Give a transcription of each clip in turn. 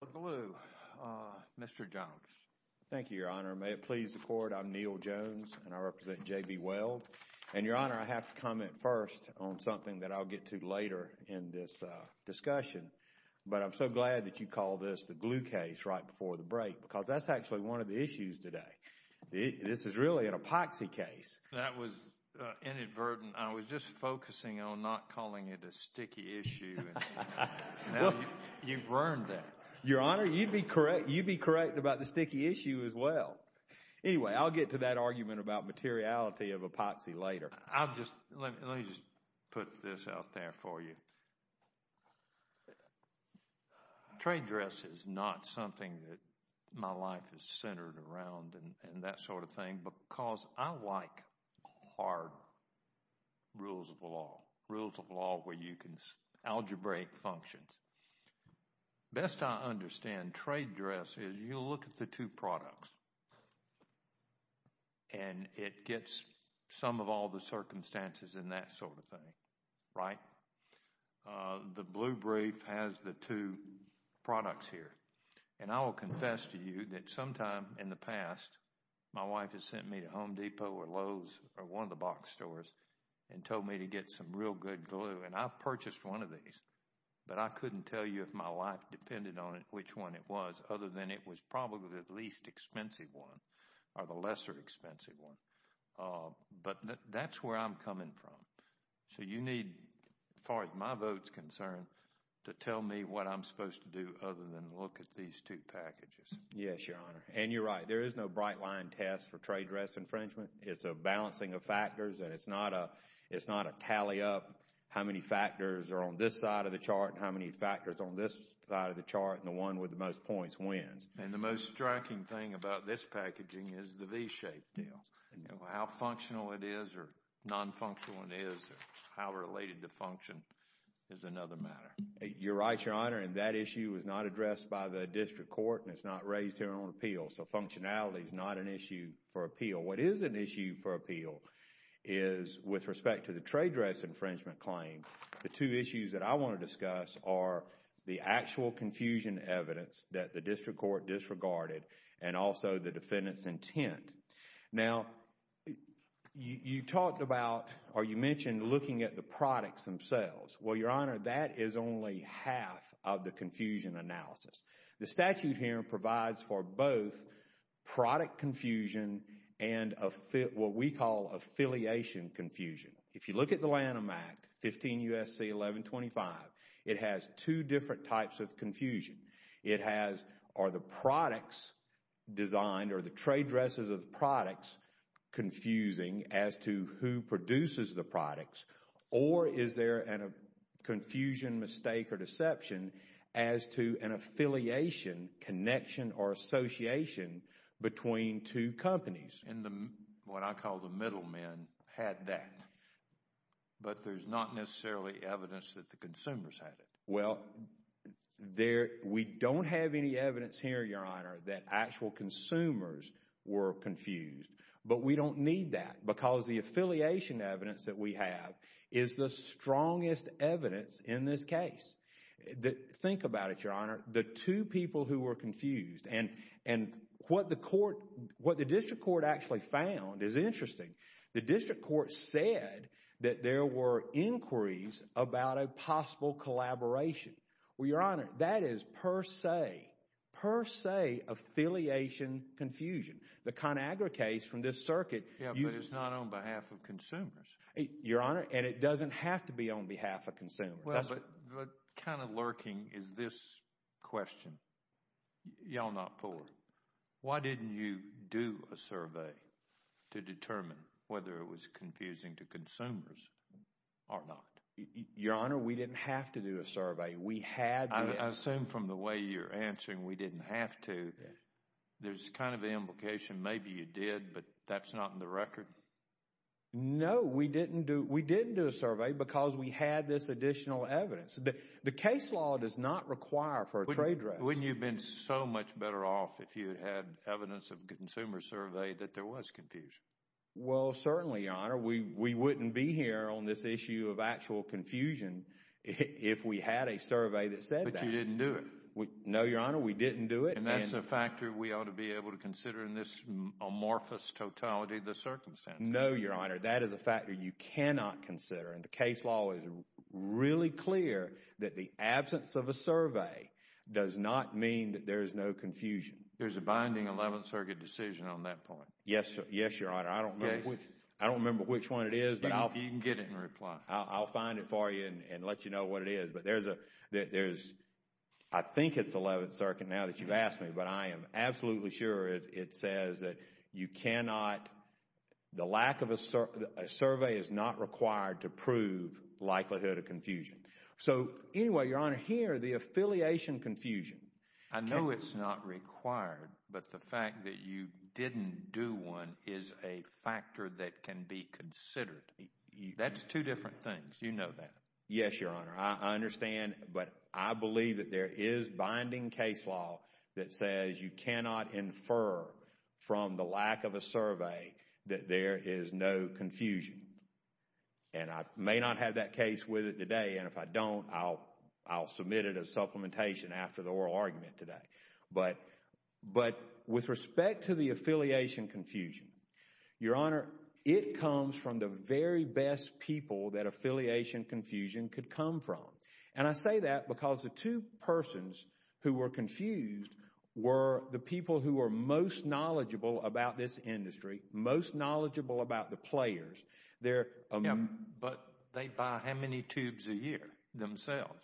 The Gorilla Glue, Mr. Jones. Thank you, Your Honor. May it please the Court, I'm Neal Jones, and I represent J.B. Weld. And Your Honor, I have to comment first on something that I'll get to later in this discussion, but I'm so glad that you called this the glue case right before the break, because that's actually one of the issues today. This is really an epoxy case. That was inadvertent. I was just focusing on not calling it a sticky issue, and now you've learned that. Your Honor, you'd be correct about the sticky issue as well. Anyway, I'll get to that argument about materiality of epoxy later. I'll just, let me just put this out there for you. Trade dress is not something that my life is centered around and that sort of thing, because I like hard rules of law, rules of law where you can algebraic functions. Best I understand, trade dress is you look at the two products and it gets some of all the circumstances and that sort of thing, right? The blue brief has the two products here, and I will confess to you that sometime in the past, my wife has sent me to Home Depot or Lowe's or one of the box stores and told me to get some real good glue, and I purchased one of these, but I couldn't tell you if my life depended on it, which one it was, other than it was probably the least expensive one or the lesser expensive one. But that's where I'm coming from, so you need, as far as my vote's concerned, to tell me what I'm supposed to do other than look at these two packages. Yes, Your Honor, and you're right. There is no bright line test for trade dress infringement. It's a balancing of factors, and it's not a tally up how many factors are on this side of the chart and how many factors on this side of the chart, and the one with the most points wins. And the most striking thing about this packaging is the V-shaped deal. How functional it is or non-functional it is, how related to function is another matter. You're right, Your Honor, and that issue is not addressed by the district court, and it's not raised here on appeal, so functionality is not an issue for appeal. What is an issue for appeal is, with respect to the trade dress infringement claim, the two issues that I want to discuss are the actual confusion evidence that the district court disregarded and also the defendant's intent. Now, you talked about or you mentioned looking at the products themselves. Well, Your Honor, that is only half of the confusion analysis. The statute here provides for both product confusion and what we call affiliation confusion. If you look at the Lanham Act, 15 U.S.C. 1125, it has two different types of confusion. It has, are the products designed or the trade dresses of the products confusing as to who the affiliation, connection, or association between two companies. What I call the middlemen had that, but there's not necessarily evidence that the consumers had it. Well, we don't have any evidence here, Your Honor, that actual consumers were confused, but we don't need that because the affiliation evidence that we have is the strongest evidence in this case. Think about it, Your Honor, the two people who were confused and what the court, what the district court actually found is interesting. The district court said that there were inquiries about a possible collaboration. Well, Your Honor, that is per se, per se affiliation confusion. The ConAgra case from this circuit. Yeah, but it's not on behalf of consumers. Your Honor, and it doesn't have to be on behalf of consumers. But kind of lurking is this question, y'all not poor. Why didn't you do a survey to determine whether it was confusing to consumers or not? Your Honor, we didn't have to do a survey. We had to. I assume from the way you're answering, we didn't have to. There's kind of implication maybe you did, but that's not in the record. No, we didn't do, we didn't do a survey because we had this additional evidence. The case law does not require for a trade dress. Wouldn't you have been so much better off if you had evidence of consumer survey that there was confusion? Well, certainly, Your Honor, we wouldn't be here on this issue of actual confusion if we had a survey that said that. But you didn't do it. No, Your Honor, we didn't do it. And that's the factor we ought to be able to consider in this amorphous totality of circumstances. No, Your Honor, that is a factor you cannot consider. And the case law is really clear that the absence of a survey does not mean that there is no confusion. There's a binding Eleventh Circuit decision on that point. Yes, Your Honor. I don't remember which one it is, but I'll find it for you and let you know what it is. But there's a, there's, I think it's Eleventh Circuit now that you've asked me, but I am The lack of a survey is not required to prove likelihood of confusion. So anyway, Your Honor, here, the affiliation confusion. I know it's not required, but the fact that you didn't do one is a factor that can be considered. That's two different things. You know that. Yes, Your Honor. I understand, but I believe that there is binding case law that says you cannot infer from the lack of a survey that there is no confusion. And I may not have that case with it today, and if I don't, I'll submit it as supplementation after the oral argument today. But with respect to the affiliation confusion, Your Honor, it comes from the very best people that affiliation confusion could come from. And I say that because the two persons who were confused were the people who were most knowledgeable about this industry, most knowledgeable about the players. They're... Yeah, but they buy how many tubes a year themselves?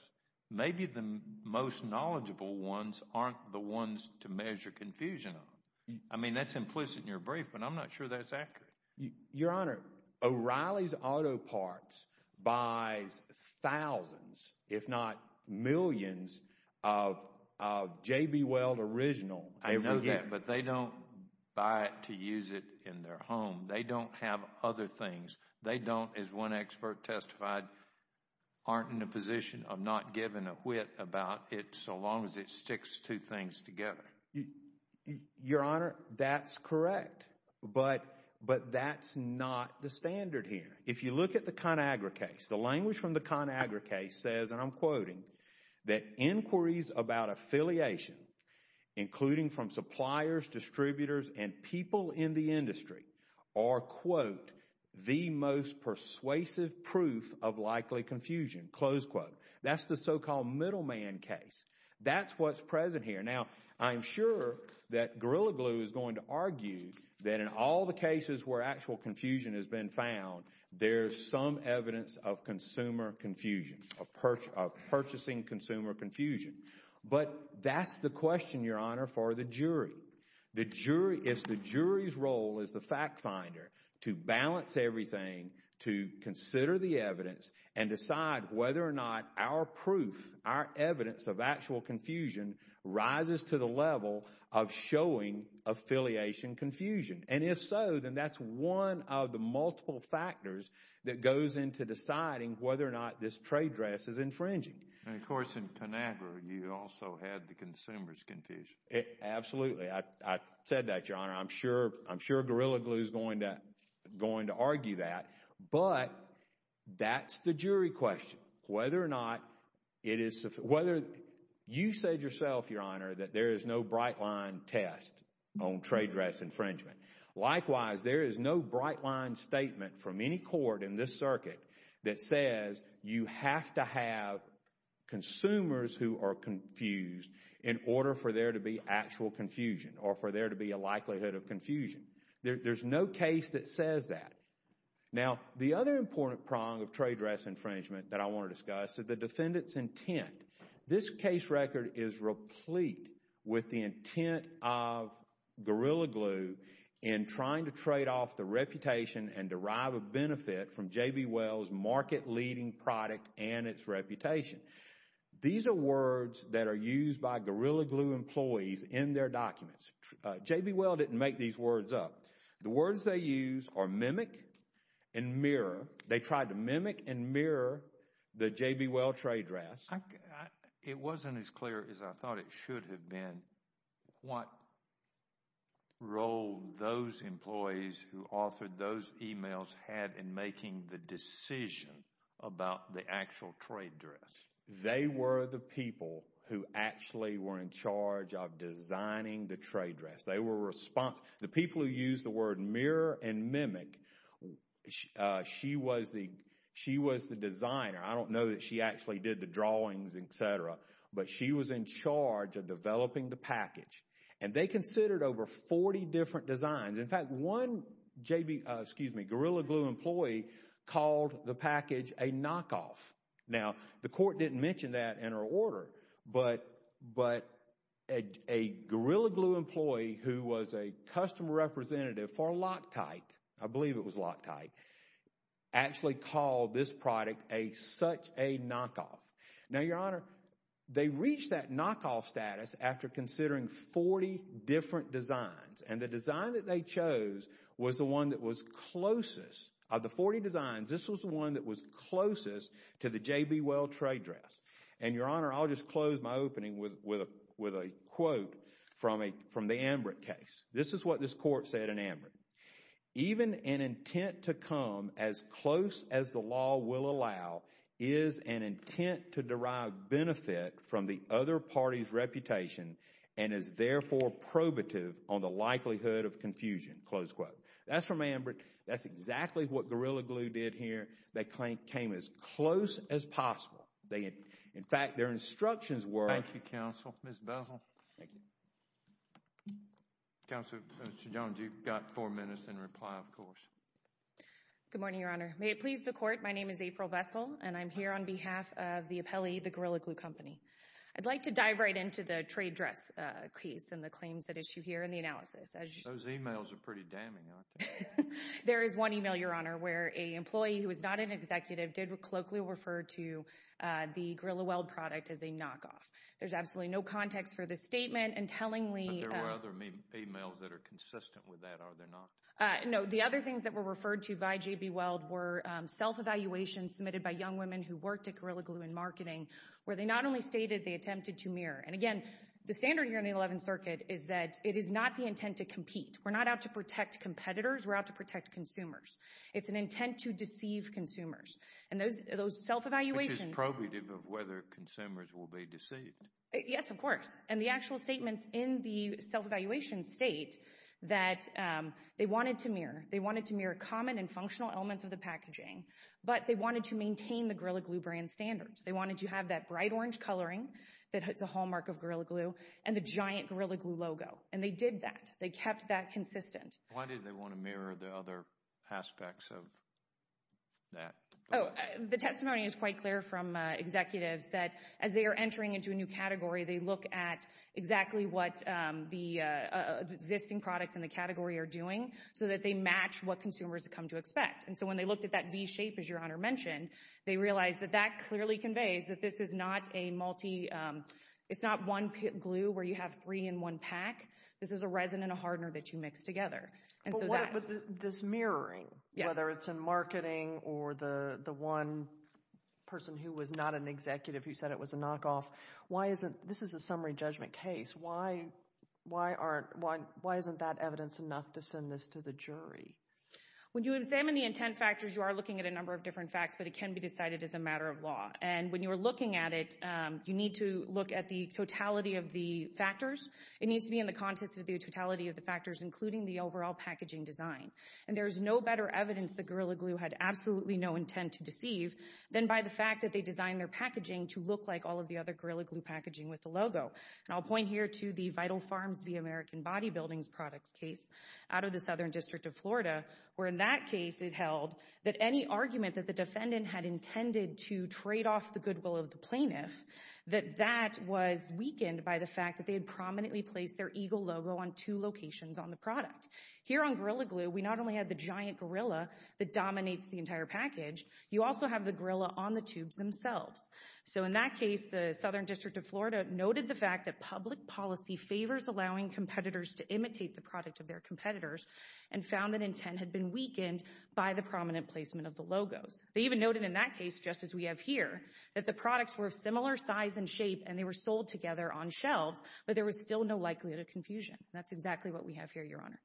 Maybe the most knowledgeable ones aren't the ones to measure confusion on. I mean, that's implicit in your brief, but I'm not sure that's accurate. Your Honor, O'Reilly's Auto Parts buys thousands, if not millions, of JB Weld original. I know that, but they don't buy it to use it in their home. They don't have other things. They don't, as one expert testified, aren't in a position of not giving a whit about it so long as it sticks two things together. Your Honor, that's correct. But that's not the standard here. If you look at the ConAgra case, the language from the ConAgra case says, and I'm quoting, that inquiries about affiliation, including from suppliers, distributors, and people in the industry, are, quote, the most persuasive proof of likely confusion, close quote. That's the so-called middleman case. That's what's present here. Now, I'm sure that Gorilla Glue is going to argue that in all the cases where actual confusion has been found, there's some evidence of consumer confusion, of purchasing consumer confusion. But that's the question, Your Honor, for the jury. The jury, it's the jury's role as the fact finder to balance everything, to consider the evidence, and decide whether or not our proof, our evidence of actual confusion rises to the level of showing affiliation confusion. And if so, then that's one of the multiple factors that goes into deciding whether or not this trade dress is infringing. And, of course, in ConAgra, you also had the consumer's confusion. Absolutely. I said that, Your Honor. I'm sure Gorilla Glue is going to argue that. But that's the jury question, whether or not it is, whether, you said yourself, Your Honor, that there is no bright line test on trade dress infringement. Likewise, there is no bright line statement from any court in this circuit that says you have to have consumers who are confused in order for there to be actual confusion or for there to be a likelihood of confusion. There's no case that says that. Now, the other important prong of trade dress infringement that I want to discuss is the defendant's intent. This case record is replete with the intent of Gorilla Glue in trying to trade off the reputation and derive a benefit from J.B. Wells' market-leading product and its reputation. These are words that are used by Gorilla Glue employees in their documents. J.B. Wells didn't make these words up. The words they use are mimic and mirror. They tried to mimic and mirror the J.B. Wells trade dress. It wasn't as clear as I thought it should have been what role those employees who authored those emails had in making the decision about the actual trade dress. They were the people who actually were in charge of designing the trade dress. They were responsible. The people who used the word mirror and mimic, she was the designer. I don't know that she actually did the drawings, etc., but she was in charge of developing the package. They considered over 40 different designs. In fact, one Gorilla Glue employee called the package a knockoff. The court didn't mention that in her order, but a Gorilla Glue employee who was a customer representative for Loctite, I believe it was Loctite, actually called this product such a knockoff. Now, Your Honor, they reached that knockoff status after considering 40 different designs. The design that they chose was the one that was closest. to the J.B. Wells trade dress. And Your Honor, I'll just close my opening with a quote from the Ambrick case. This is what this court said in Ambrick. Even an intent to come as close as the law will allow is an intent to derive benefit from the other party's reputation and is therefore probative on the likelihood of confusion. That's from Ambrick. That's exactly what Gorilla Glue did here. They came as close as possible. In fact, their instructions were... Thank you, Counsel. Ms. Bessel? Thank you. Counsel, Mr. Jones, you've got four minutes in reply, of course. Good morning, Your Honor. May it please the court, my name is April Bessel and I'm here on behalf of the appellee, the Gorilla Glue Company. I'd like to dive right into the trade dress case and the claims at issue here and the analysis. Those emails are pretty damning, aren't they? There is one email, Your Honor, where an employee who is not an executive did colloquially refer to the Gorilla Weld product as a knockoff. There's absolutely no context for this statement and tellingly... But there were other emails that are consistent with that, are there not? No, the other things that were referred to by J.B. Weld were self-evaluations submitted by young women who worked at Gorilla Glue in marketing, where they not only stated they attempted to mirror. And again, the standard here in the 11th Circuit is that it is not the intent to compete. We're not out to protect competitors, we're out to protect consumers. It's an intent to deceive consumers. And those self-evaluations... Which is probative of whether consumers will be deceived. Yes, of course. And the actual statements in the self-evaluation state that they wanted to mirror. They wanted to mirror common and functional elements of the packaging, but they wanted to maintain the Gorilla Glue brand standards. They wanted to have that bright orange coloring that is a hallmark of Gorilla Glue and the giant Gorilla Glue logo. And they did that. They kept that consistent. Why did they want to mirror the other aspects of that? The testimony is quite clear from executives that as they are entering into a new category, they look at exactly what the existing products in the category are doing, so that they match what consumers come to expect. And so when they looked at that V-shape, as Your Honor mentioned, they realized that that clearly conveys that this is not a multi... It's not one glue where you have three in one pack. This is a resin and a hardener that you mix together. But this mirroring, whether it's in marketing or the one person who was not an executive who said it was a knockoff, why isn't... This is a summary judgment case. Why isn't that evidence enough to send this to the jury? When you examine the intent factors, you are looking at a number of different facts, but it can be decided as a matter of law. And when you are looking at it, you need to look at the totality of the factors. It needs to be in the context of the totality of the factors, including the overall packaging design. And there is no better evidence that Gorilla Glue had absolutely no intent to deceive than by the fact that they designed their packaging to look like all of the other Gorilla Glue packaging with the logo. And I'll point here to the Vital Farms v. American Body Buildings Products case out of the Southern District of Florida, where in that case it held that any argument that the defendant had intended to trade off the goodwill of the plaintiff, that that was weakened by the fact that they had prominently placed their eagle logo on two locations on the product. Here on Gorilla Glue, we not only had the giant gorilla that dominates the entire package, you also have the gorilla on the tubes themselves. So in that case, the Southern District of Florida noted the fact that public policy favors allowing competitors to imitate the product of their competitors and found that intent had been weakened by the prominent placement of the logos. They even noted in that case, just as we have here, that the products were of similar size and shape, and they were sold together on shelves, but there was still no likelihood of confusion. That's exactly what we have here, Your Honor.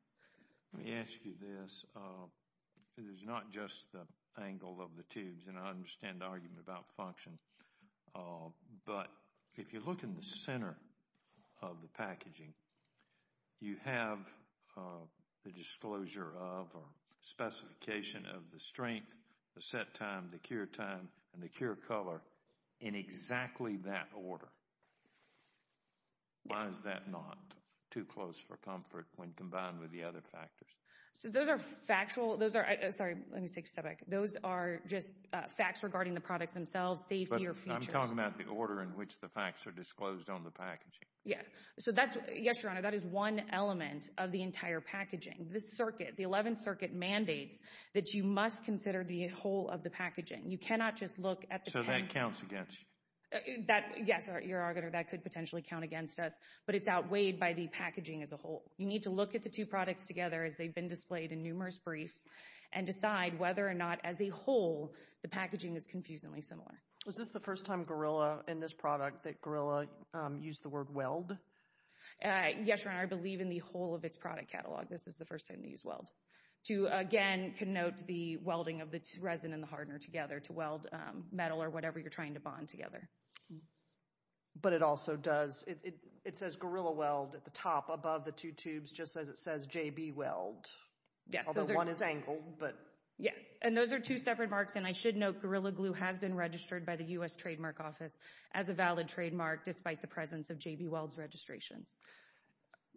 Let me ask you this. It is not just the angle of the tubes, and I understand the argument about function, but if you look in the center of the packaging, you have the disclosure of or specification of the strength, the set time, the cure time, and the cure color in exactly that order. Why is that not too close for comfort when combined with the other factors? So those are factual, those are, sorry, let me take a step back. Those are just facts regarding the products themselves, safety, or features. But I'm talking about the order in which the facts are disclosed on the packaging. Yeah. So that's, yes, Your Honor, that is one element of the entire packaging. This circuit, the 11th Circuit mandates that you must consider the whole of the packaging. You cannot just look at the packaging. So that counts against you? That, yes, Your Honor, that could potentially count against us, but it's outweighed by the packaging as a whole. You need to look at the two products together as they've been displayed in numerous briefs and decide whether or not, as a whole, the packaging is confusingly similar. Was this the first time Gorilla, in this product, that Gorilla used the word weld? Yes, Your Honor. I believe in the whole of its product catalog. This is the first time they used weld. To, again, connote the welding of the resin and the hardener together to weld metal or whatever you're trying to bond together. But it also does, it says Gorilla Weld at the top, above the two tubes, just as it says JB Weld. Yes. Although one is angled, but... Yes. And those are two separate marks. And I should note Gorilla Glue has been registered by the U.S. Trademark Office as a valid trademark despite the presence of JB Weld's registrations.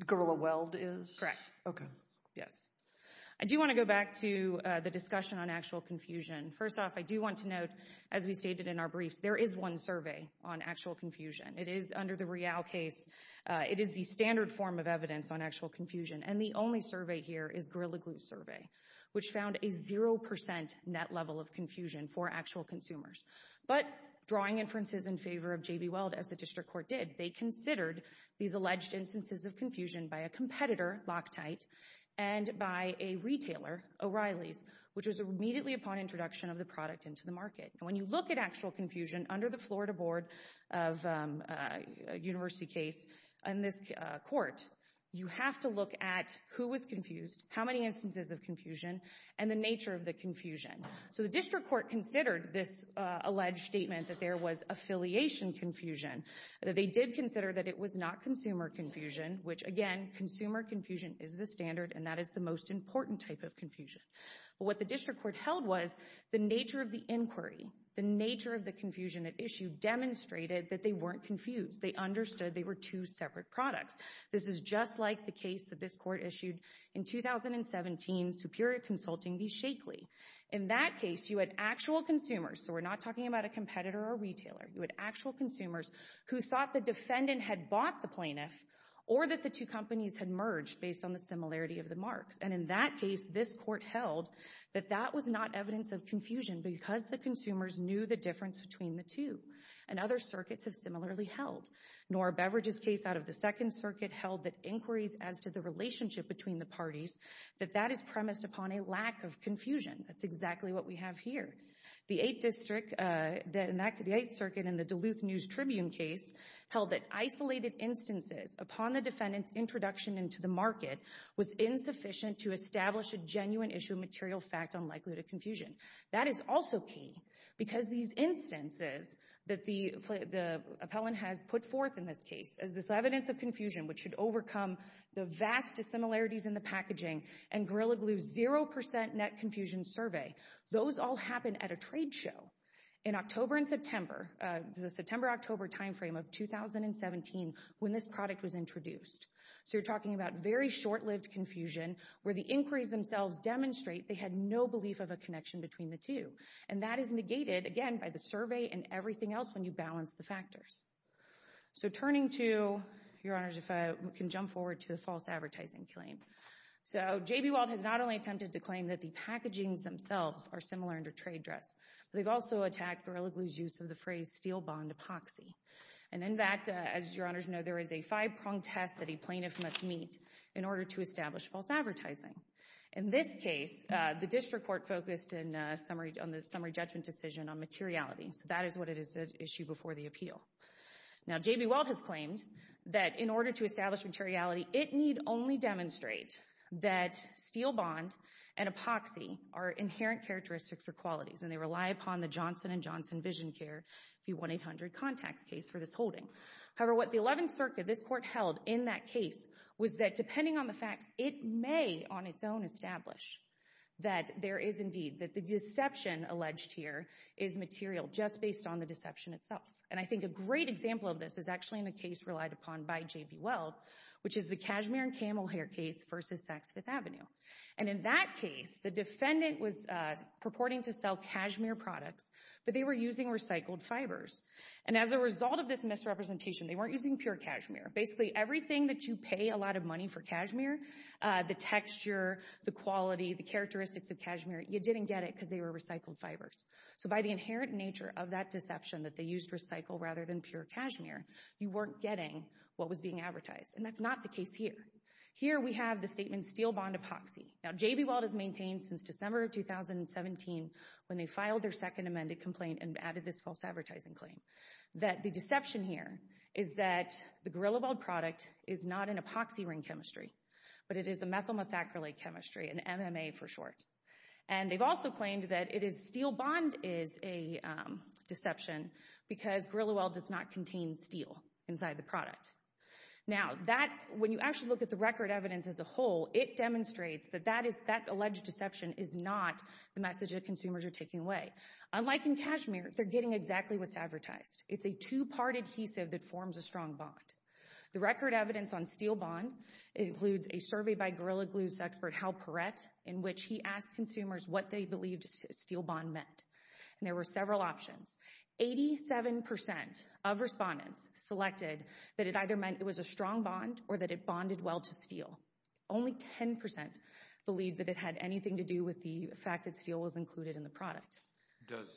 Gorilla Weld is? Correct. Okay. Yes. I do want to go back to the discussion on actual confusion. First off, I do want to note, as we stated in our briefs, there is one survey on actual confusion. It is under the Real case. It is the standard form of evidence on actual confusion. And the only survey here is Gorilla Glue's survey, which found a zero percent net level of confusion for actual consumers. But drawing inferences in favor of JB Weld, as the district court did, they considered these alleged instances of confusion by a competitor, Loctite, and by a retailer, O'Reilly's, which was immediately upon introduction of the product into the market. When you look at actual confusion under the Florida Board of University case in this court, you have to look at who was confused, how many instances of confusion, and the nature of the confusion. So the district court considered this alleged statement that there was affiliation confusion. They did consider that it was not consumer confusion, which, again, consumer confusion is the standard, and that is the most important type of confusion. What the district court held was the nature of the inquiry, the nature of the confusion it issued demonstrated that they weren't confused. They understood they were two separate products. This is just like the case that this court issued in 2017, Superior Consulting v. Shakely. In that case, you had actual consumers, so we're not talking about a competitor or retailer. You had actual consumers who thought the defendant had bought the plaintiff or that the two companies had merged based on the similarity of the marks. And in that case, this court held that that was not evidence of confusion because the consumers knew the difference between the two. And other circuits have similarly held. Nora Beveridge's case out of the Second Circuit held that inquiries as to the relationship between the parties, that that is premised upon a lack of confusion. That's exactly what we have here. The Eighth Circuit in the Duluth News Tribune case held that isolated instances upon the defendant's introduction into the market was insufficient to establish a genuine issue of material fact unlikely to confusion. That is also key because these instances that the appellant has put forth in this case as this evidence of confusion which should overcome the vast dissimilarities in the packaging and Gorilla Glue's 0% net confusion survey, those all happen at a trade show in October and September, the September-October timeframe of 2017 when this product was introduced. So you're talking about very short-lived confusion where the inquiries themselves demonstrate they had no belief of a connection between the two. And that is negated, again, by the survey and everything else when you balance the factors. So turning to, Your Honors, if I can jump forward to the false advertising claim. So J.B. Weld has not only attempted to claim that the packagings themselves are similar under trade dress, they've also attacked Gorilla Glue's use of the phrase steel bond epoxy. And in fact, as Your Honors know, there is a five-pronged test that a plaintiff must meet in order to establish false advertising. In this case, the district court focused on the summary judgment decision on materiality. So that is what it is, the issue before the appeal. Now J.B. Weld has claimed that in order to establish materiality, it need only demonstrate that steel bond and epoxy are inherent characteristics or qualities and they rely upon the Johnson and Johnson VisionCare V1-800 Contacts case for this holding. However, what the 11th Circuit, this court held in that case, was that depending on the facts, it may on its own establish that there is indeed, that the deception alleged here is material just based on the deception itself. And I think a great example of this is actually in a case relied upon by J.B. Weld, which is the cashmere and camel hair case versus Saks Fifth Avenue. And in that case, the defendant was purporting to sell cashmere products, but they were using recycled fibers. And as a result of this misrepresentation, they weren't using pure cashmere. Basically everything that you pay a lot of money for cashmere, the texture, the quality, the characteristics of cashmere, you didn't get it because they were recycled fibers. So by the inherent nature of that deception that they used recycled rather than pure cashmere, you weren't getting what was being advertised. And that's not the case here. Here we have the statement steel bond epoxy. Now J.B. Weld has maintained since December of 2017, when they filed their second amended complaint and added this false advertising claim, that the deception here is that the Gorillabald product is not an epoxy ring chemistry, but it is a methyl methacrylate chemistry, an MMA for short. And they've also claimed that steel bond is a deception because Gorillaweld does not contain steel inside the product. Now when you actually look at the record evidence as a whole, it demonstrates that that alleged deception is not the message that consumers are taking away. Unlike in cashmere, they're getting exactly what's advertised. It's a two-part adhesive that forms a strong bond. The record evidence on steel bond includes a survey by Gorilla Glue's expert Hal Perret in which he asked consumers what they believed steel bond meant. And there were several options. Eighty-seven percent of respondents selected that it either meant it was a strong bond or that it bonded well to steel. Only ten percent believed that it had anything to do with the fact that steel was included in the product. Does,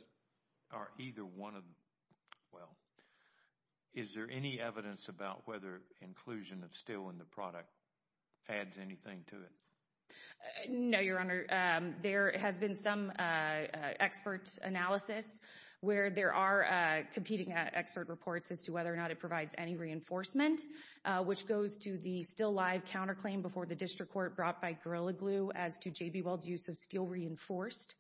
are either one of them, well, is there any evidence about whether inclusion of steel in the product adds anything to it? No, Your Honor. There has been some expert analysis where there are competing expert reports as to whether or not it provides any reinforcement, which goes to the still-live counterclaim before the district court brought by Gorilla Glue as to J.B. Weld's use of steel reinforced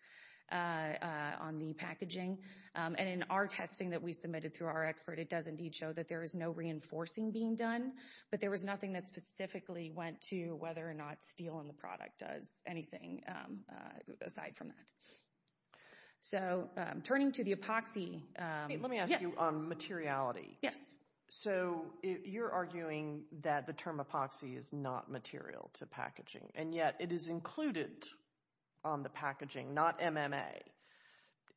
on the packaging. And in our testing that we submitted through our expert, it does indeed show that there is no reinforcing being done, but there was nothing that specifically went to whether or not steel in the product does anything aside from that. So turning to the epoxy, let me ask you on materiality. So you're arguing that the term epoxy is not material to packaging, and yet it is included on the packaging, not MMA.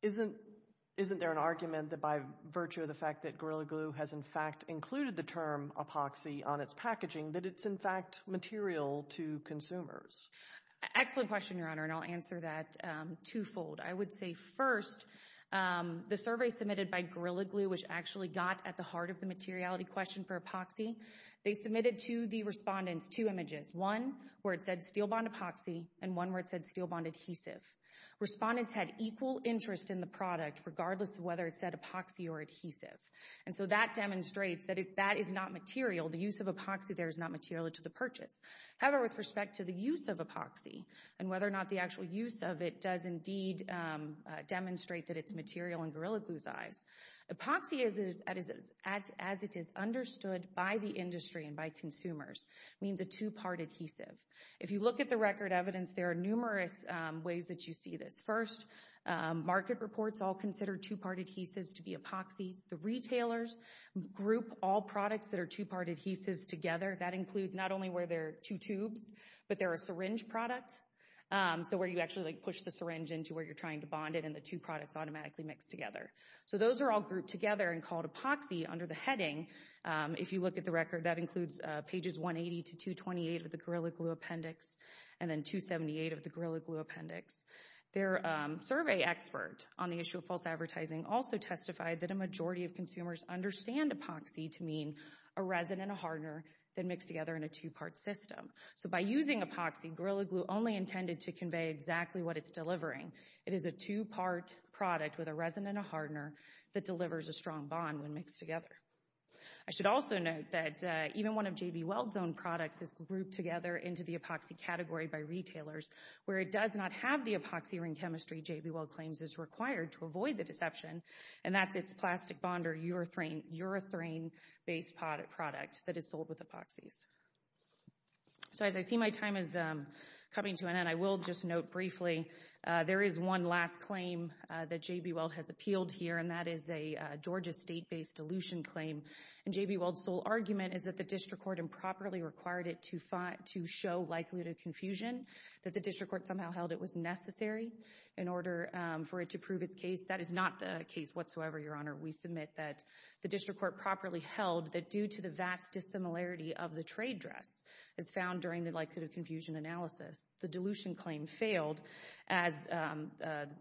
Isn't there an argument that by virtue of the fact that Gorilla Glue has in fact included the term epoxy on its packaging, that it's in fact material to consumers? Excellent question, Your Honor, and I'll answer that twofold. I would say first, the survey submitted by Gorilla Glue, which actually got at the heart of the materiality question for epoxy, they submitted to the respondents two images, one where it said steel bond epoxy and one where it said steel bond adhesive. Respondents had equal interest in the product regardless of whether it said epoxy or adhesive. And so that demonstrates that that is not material, the use of epoxy there is not material to the purchase. However, with respect to the use of epoxy and whether or not the actual use of it does indeed demonstrate that it's material in Gorilla Glue's eyes, epoxy as it is understood by the industry and by consumers means a two-part adhesive. If you look at the record evidence, there are numerous ways that you see this. First, market reports all consider two-part adhesives to be epoxies. The retailers group all products that are two-part adhesives together. That includes not only where they're two tubes, but they're a syringe product, so where you actually like push the syringe into where you're trying to bond it and the two products automatically mix together. So those are all grouped together and called epoxy under the heading. If you look at the record, that includes pages 180 to 228 of the Gorilla Glue appendix, and then 278 of the Gorilla Glue appendix. Their survey expert on the issue of false advertising also testified that a majority of consumers understand epoxy to mean a resin and a hardener that mix together in a two-part system. So by using epoxy, Gorilla Glue only intended to convey exactly what it's delivering. It is a two-part product with a resin and a hardener that delivers a strong bond when mixed together. I should also note that even one of JB Weld's own products is grouped together into the epoxy ring chemistry JB Weld claims is required to avoid the deception, and that's its plastic bond or urethane-based product that is sold with epoxies. So as I see my time is coming to an end, I will just note briefly, there is one last claim that JB Weld has appealed here, and that is a Georgia state-based dilution claim. And JB Weld's sole argument is that the district court improperly required it to show likelihood of confusion, that the district court somehow held it was necessary in order for it to prove its case. That is not the case whatsoever, Your Honor. We submit that the district court properly held that due to the vast dissimilarity of the trade dress as found during the likelihood of confusion analysis, the dilution claim failed as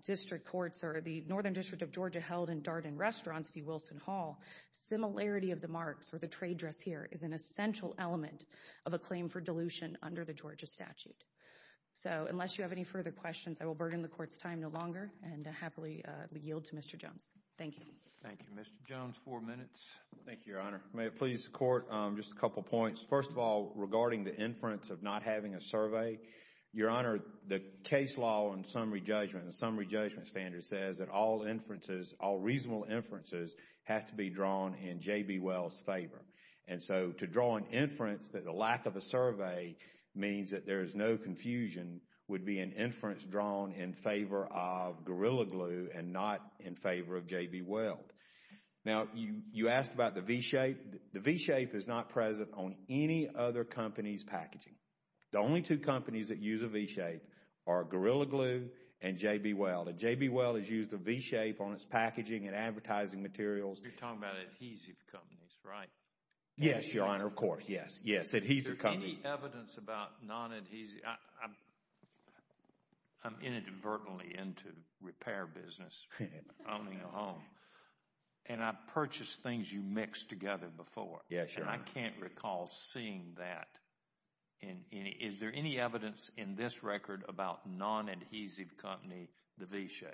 district courts or the Northern District of Georgia held in Darden Restaurants v. Wilson Hall. Similarity of the marks or the trade dress here is an essential element of a claim for a statute. So, unless you have any further questions, I will burden the Court's time no longer, and I happily yield to Mr. Jones. Thank you. Thank you. Mr. Jones, four minutes. Thank you, Your Honor. May it please the Court, just a couple points. First of all, regarding the inference of not having a survey, Your Honor, the case law on summary judgment, the summary judgment standard says that all inferences, all reasonable inferences have to be drawn in JB Weld's favor. And so, to draw an inference that the lack of a survey means that there is no confusion would be an inference drawn in favor of Gorilla Glue and not in favor of JB Weld. Now, you asked about the V-shape. The V-shape is not present on any other company's packaging. The only two companies that use a V-shape are Gorilla Glue and JB Weld. And JB Weld has used a V-shape on its packaging and advertising materials. You're talking about adhesive companies, right? Yes, Your Honor, of course. Yes. Yes. Adhesive companies. Is there any evidence about non-adhesive? I'm inadvertently into repair business, owning a home, and I've purchased things you've mixed together before. Yes, Your Honor. And I can't recall seeing that in any. Is there any evidence in this record about non-adhesive company, the V-shape?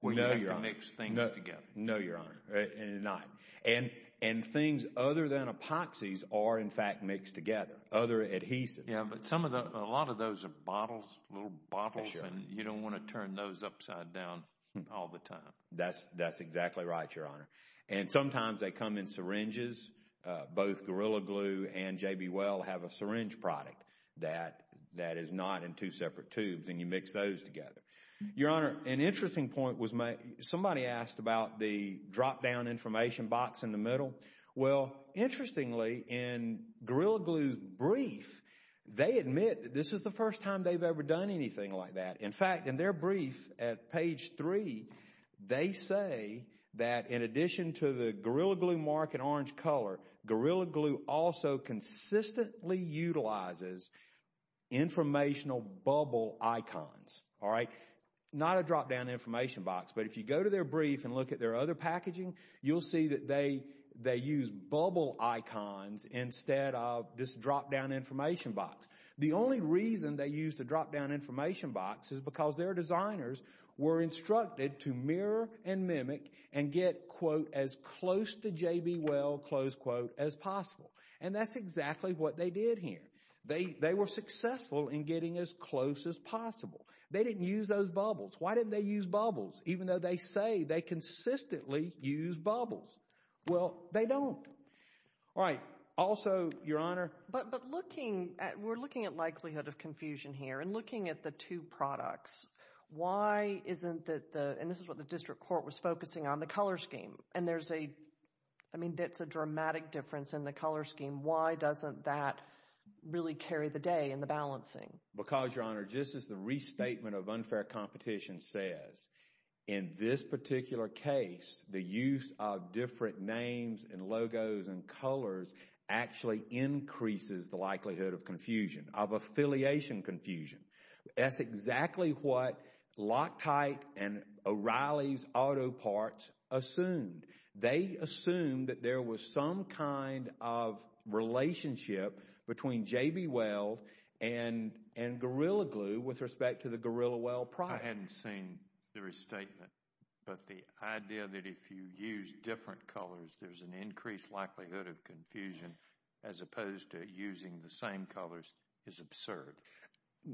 We know, Your Honor. When you have to mix things together. No, Your Honor. Not. And things other than epoxies are, in fact, mixed together. Other adhesives. Yeah, but a lot of those are bottles, little bottles, and you don't want to turn those upside down all the time. That's exactly right, Your Honor. And sometimes they come in syringes. Both Gorilla Glue and JB Weld have a syringe product that is not in two separate tubes, and you mix those together. Your Honor, an interesting point was somebody asked about the drop-down information box in the middle. Well, interestingly, in Gorilla Glue's brief, they admit that this is the first time they've ever done anything like that. In fact, in their brief at page three, they say that in addition to the Gorilla Glue mark in orange color, Gorilla Glue also consistently utilizes informational bubble icons. All right? Not a drop-down information box, but if you go to their brief and look at their other packaging, you'll see that they use bubble icons instead of this drop-down information box. The only reason they use the drop-down information box is because their designers were instructed to mirror and mimic and get, quote, as close to JB Weld, close quote, as possible. And that's exactly what they did here. They were successful in getting as close as possible. They didn't use those bubbles. Why didn't they use bubbles, even though they say they consistently use bubbles? Well, they don't. All right. Also, Your Honor. But looking at, we're looking at likelihood of confusion here and looking at the two products, why isn't that the, and this is what the district court was focusing on, the color scheme. And there's a, I mean, that's a dramatic difference in the color scheme. Why doesn't that really carry the day in the balancing? Because Your Honor, just as the restatement of unfair competition says, in this particular case, the use of different names and logos and colors actually increases the likelihood of confusion, of affiliation confusion. That's exactly what Loctite and O'Reilly's auto parts assumed. They assumed that there was some kind of relationship between JB Weld and Gorilla Glue with respect to the Gorilla Weld product. I hadn't seen the restatement, but the idea that if you use different colors, there's an increased likelihood of confusion as opposed to using the same colors is absurd.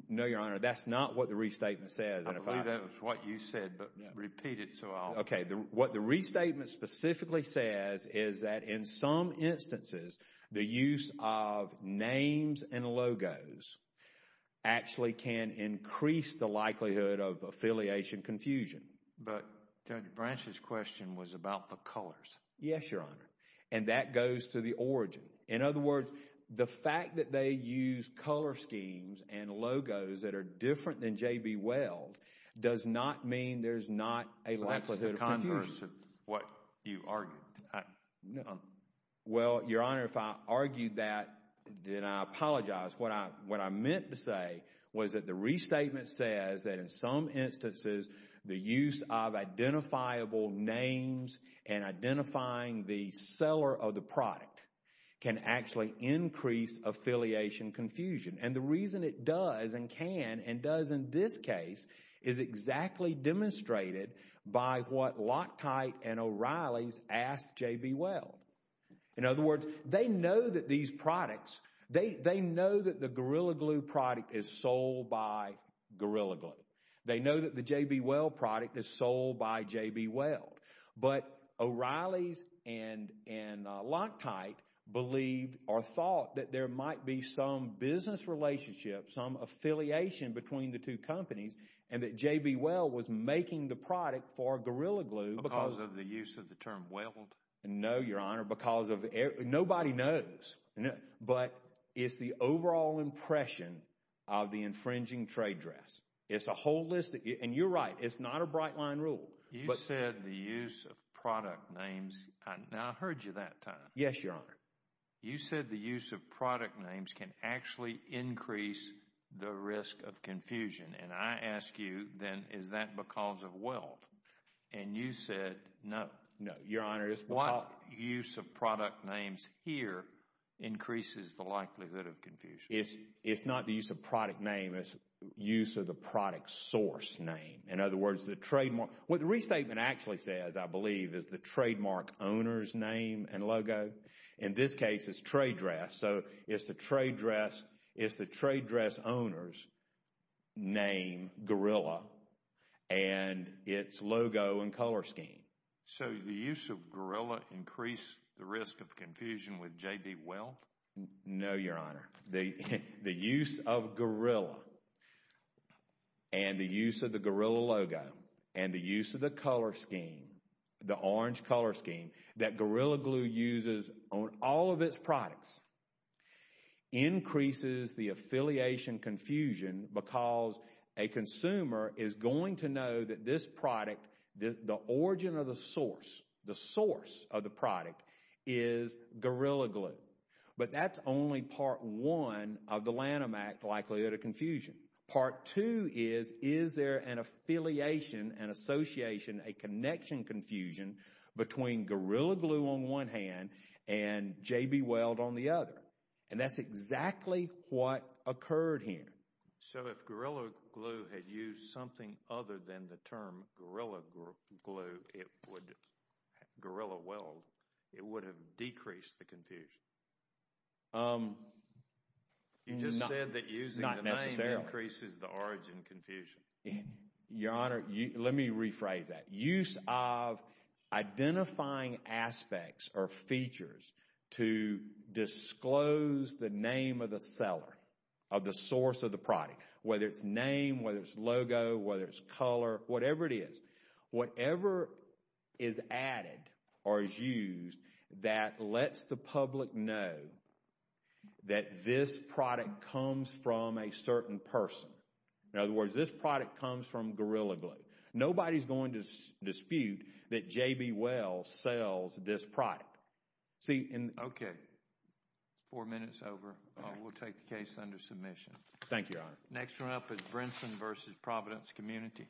No, Your Honor. That's not what the restatement says. I believe that was what you said, but repeat it so I'll- Okay, what the restatement specifically says is that in some instances, the use of names and logos actually can increase the likelihood of affiliation confusion. But Judge Branch's question was about the colors. Yes, Your Honor, and that goes to the origin. In other words, the fact that they use color schemes and logos that are different than the color schemes can actually increase the likelihood of confusion. That's a converse of what you argued. Well, Your Honor, if I argued that, then I apologize. What I meant to say was that the restatement says that in some instances, the use of identifiable names and identifying the seller of the product can actually increase affiliation confusion. The reason it does and can and does in this case is exactly demonstrated by what Loctite and O'Reilly's asked J.B. Weld. In other words, they know that the Gorilla Glue product is sold by Gorilla Glue. They know that the J.B. Weld product is sold by J.B. Weld, but O'Reilly's and Loctite believed or thought that there might be some business relationship, some affiliation between the two companies, and that J.B. Weld was making the product for Gorilla Glue because of the use of the term weld. No, Your Honor, because of, nobody knows, but it's the overall impression of the infringing trade dress. It's a holistic, and you're right, it's not a bright line rule. You said the use of product names, now I heard you that time. Yes, Your Honor. You said the use of product names can actually increase the risk of confusion, and I ask you then, is that because of weld? And you said, no. No, Your Honor. It's because- Why use of product names here increases the likelihood of confusion? It's not the use of product name, it's use of the product source name. In other words, the trademark, what the restatement actually says, I believe, is the trademark owner's name and logo. In this case, it's trade dress, so it's the trade dress owner's name, Gorilla, and it's logo and color scheme. So the use of Gorilla increased the risk of confusion with J.B. Weld? No, Your Honor. The use of Gorilla, and the use of the Gorilla logo, and the use of the color scheme, the orange color scheme, that Gorilla Glue uses on all of its products, increases the affiliation confusion because a consumer is going to know that this product, the origin of the source, the source of the product, is Gorilla Glue. But that's only part one of the Lanham Act likelihood of confusion. Part two is, is there an affiliation, an association, a connection confusion between Gorilla Glue on one hand and J.B. Weld on the other? And that's exactly what occurred here. So if Gorilla Glue had used something other than the term Gorilla Glue, Gorilla Weld, it would have decreased the confusion? You just said that using the name increases the origin confusion. Your Honor, let me rephrase that. Use of identifying aspects or features to disclose the name of the seller, of the source of the product, whether it's name, whether it's logo, whether it's color, whatever it is, the consumer is going to know that this product comes from a certain person. In other words, this product comes from Gorilla Glue. Nobody's going to dispute that J.B. Weld sells this product. Okay. Four minutes over, we'll take the case under submission. Thank you, Your Honor. Next one up is Brinson v. Providence Community.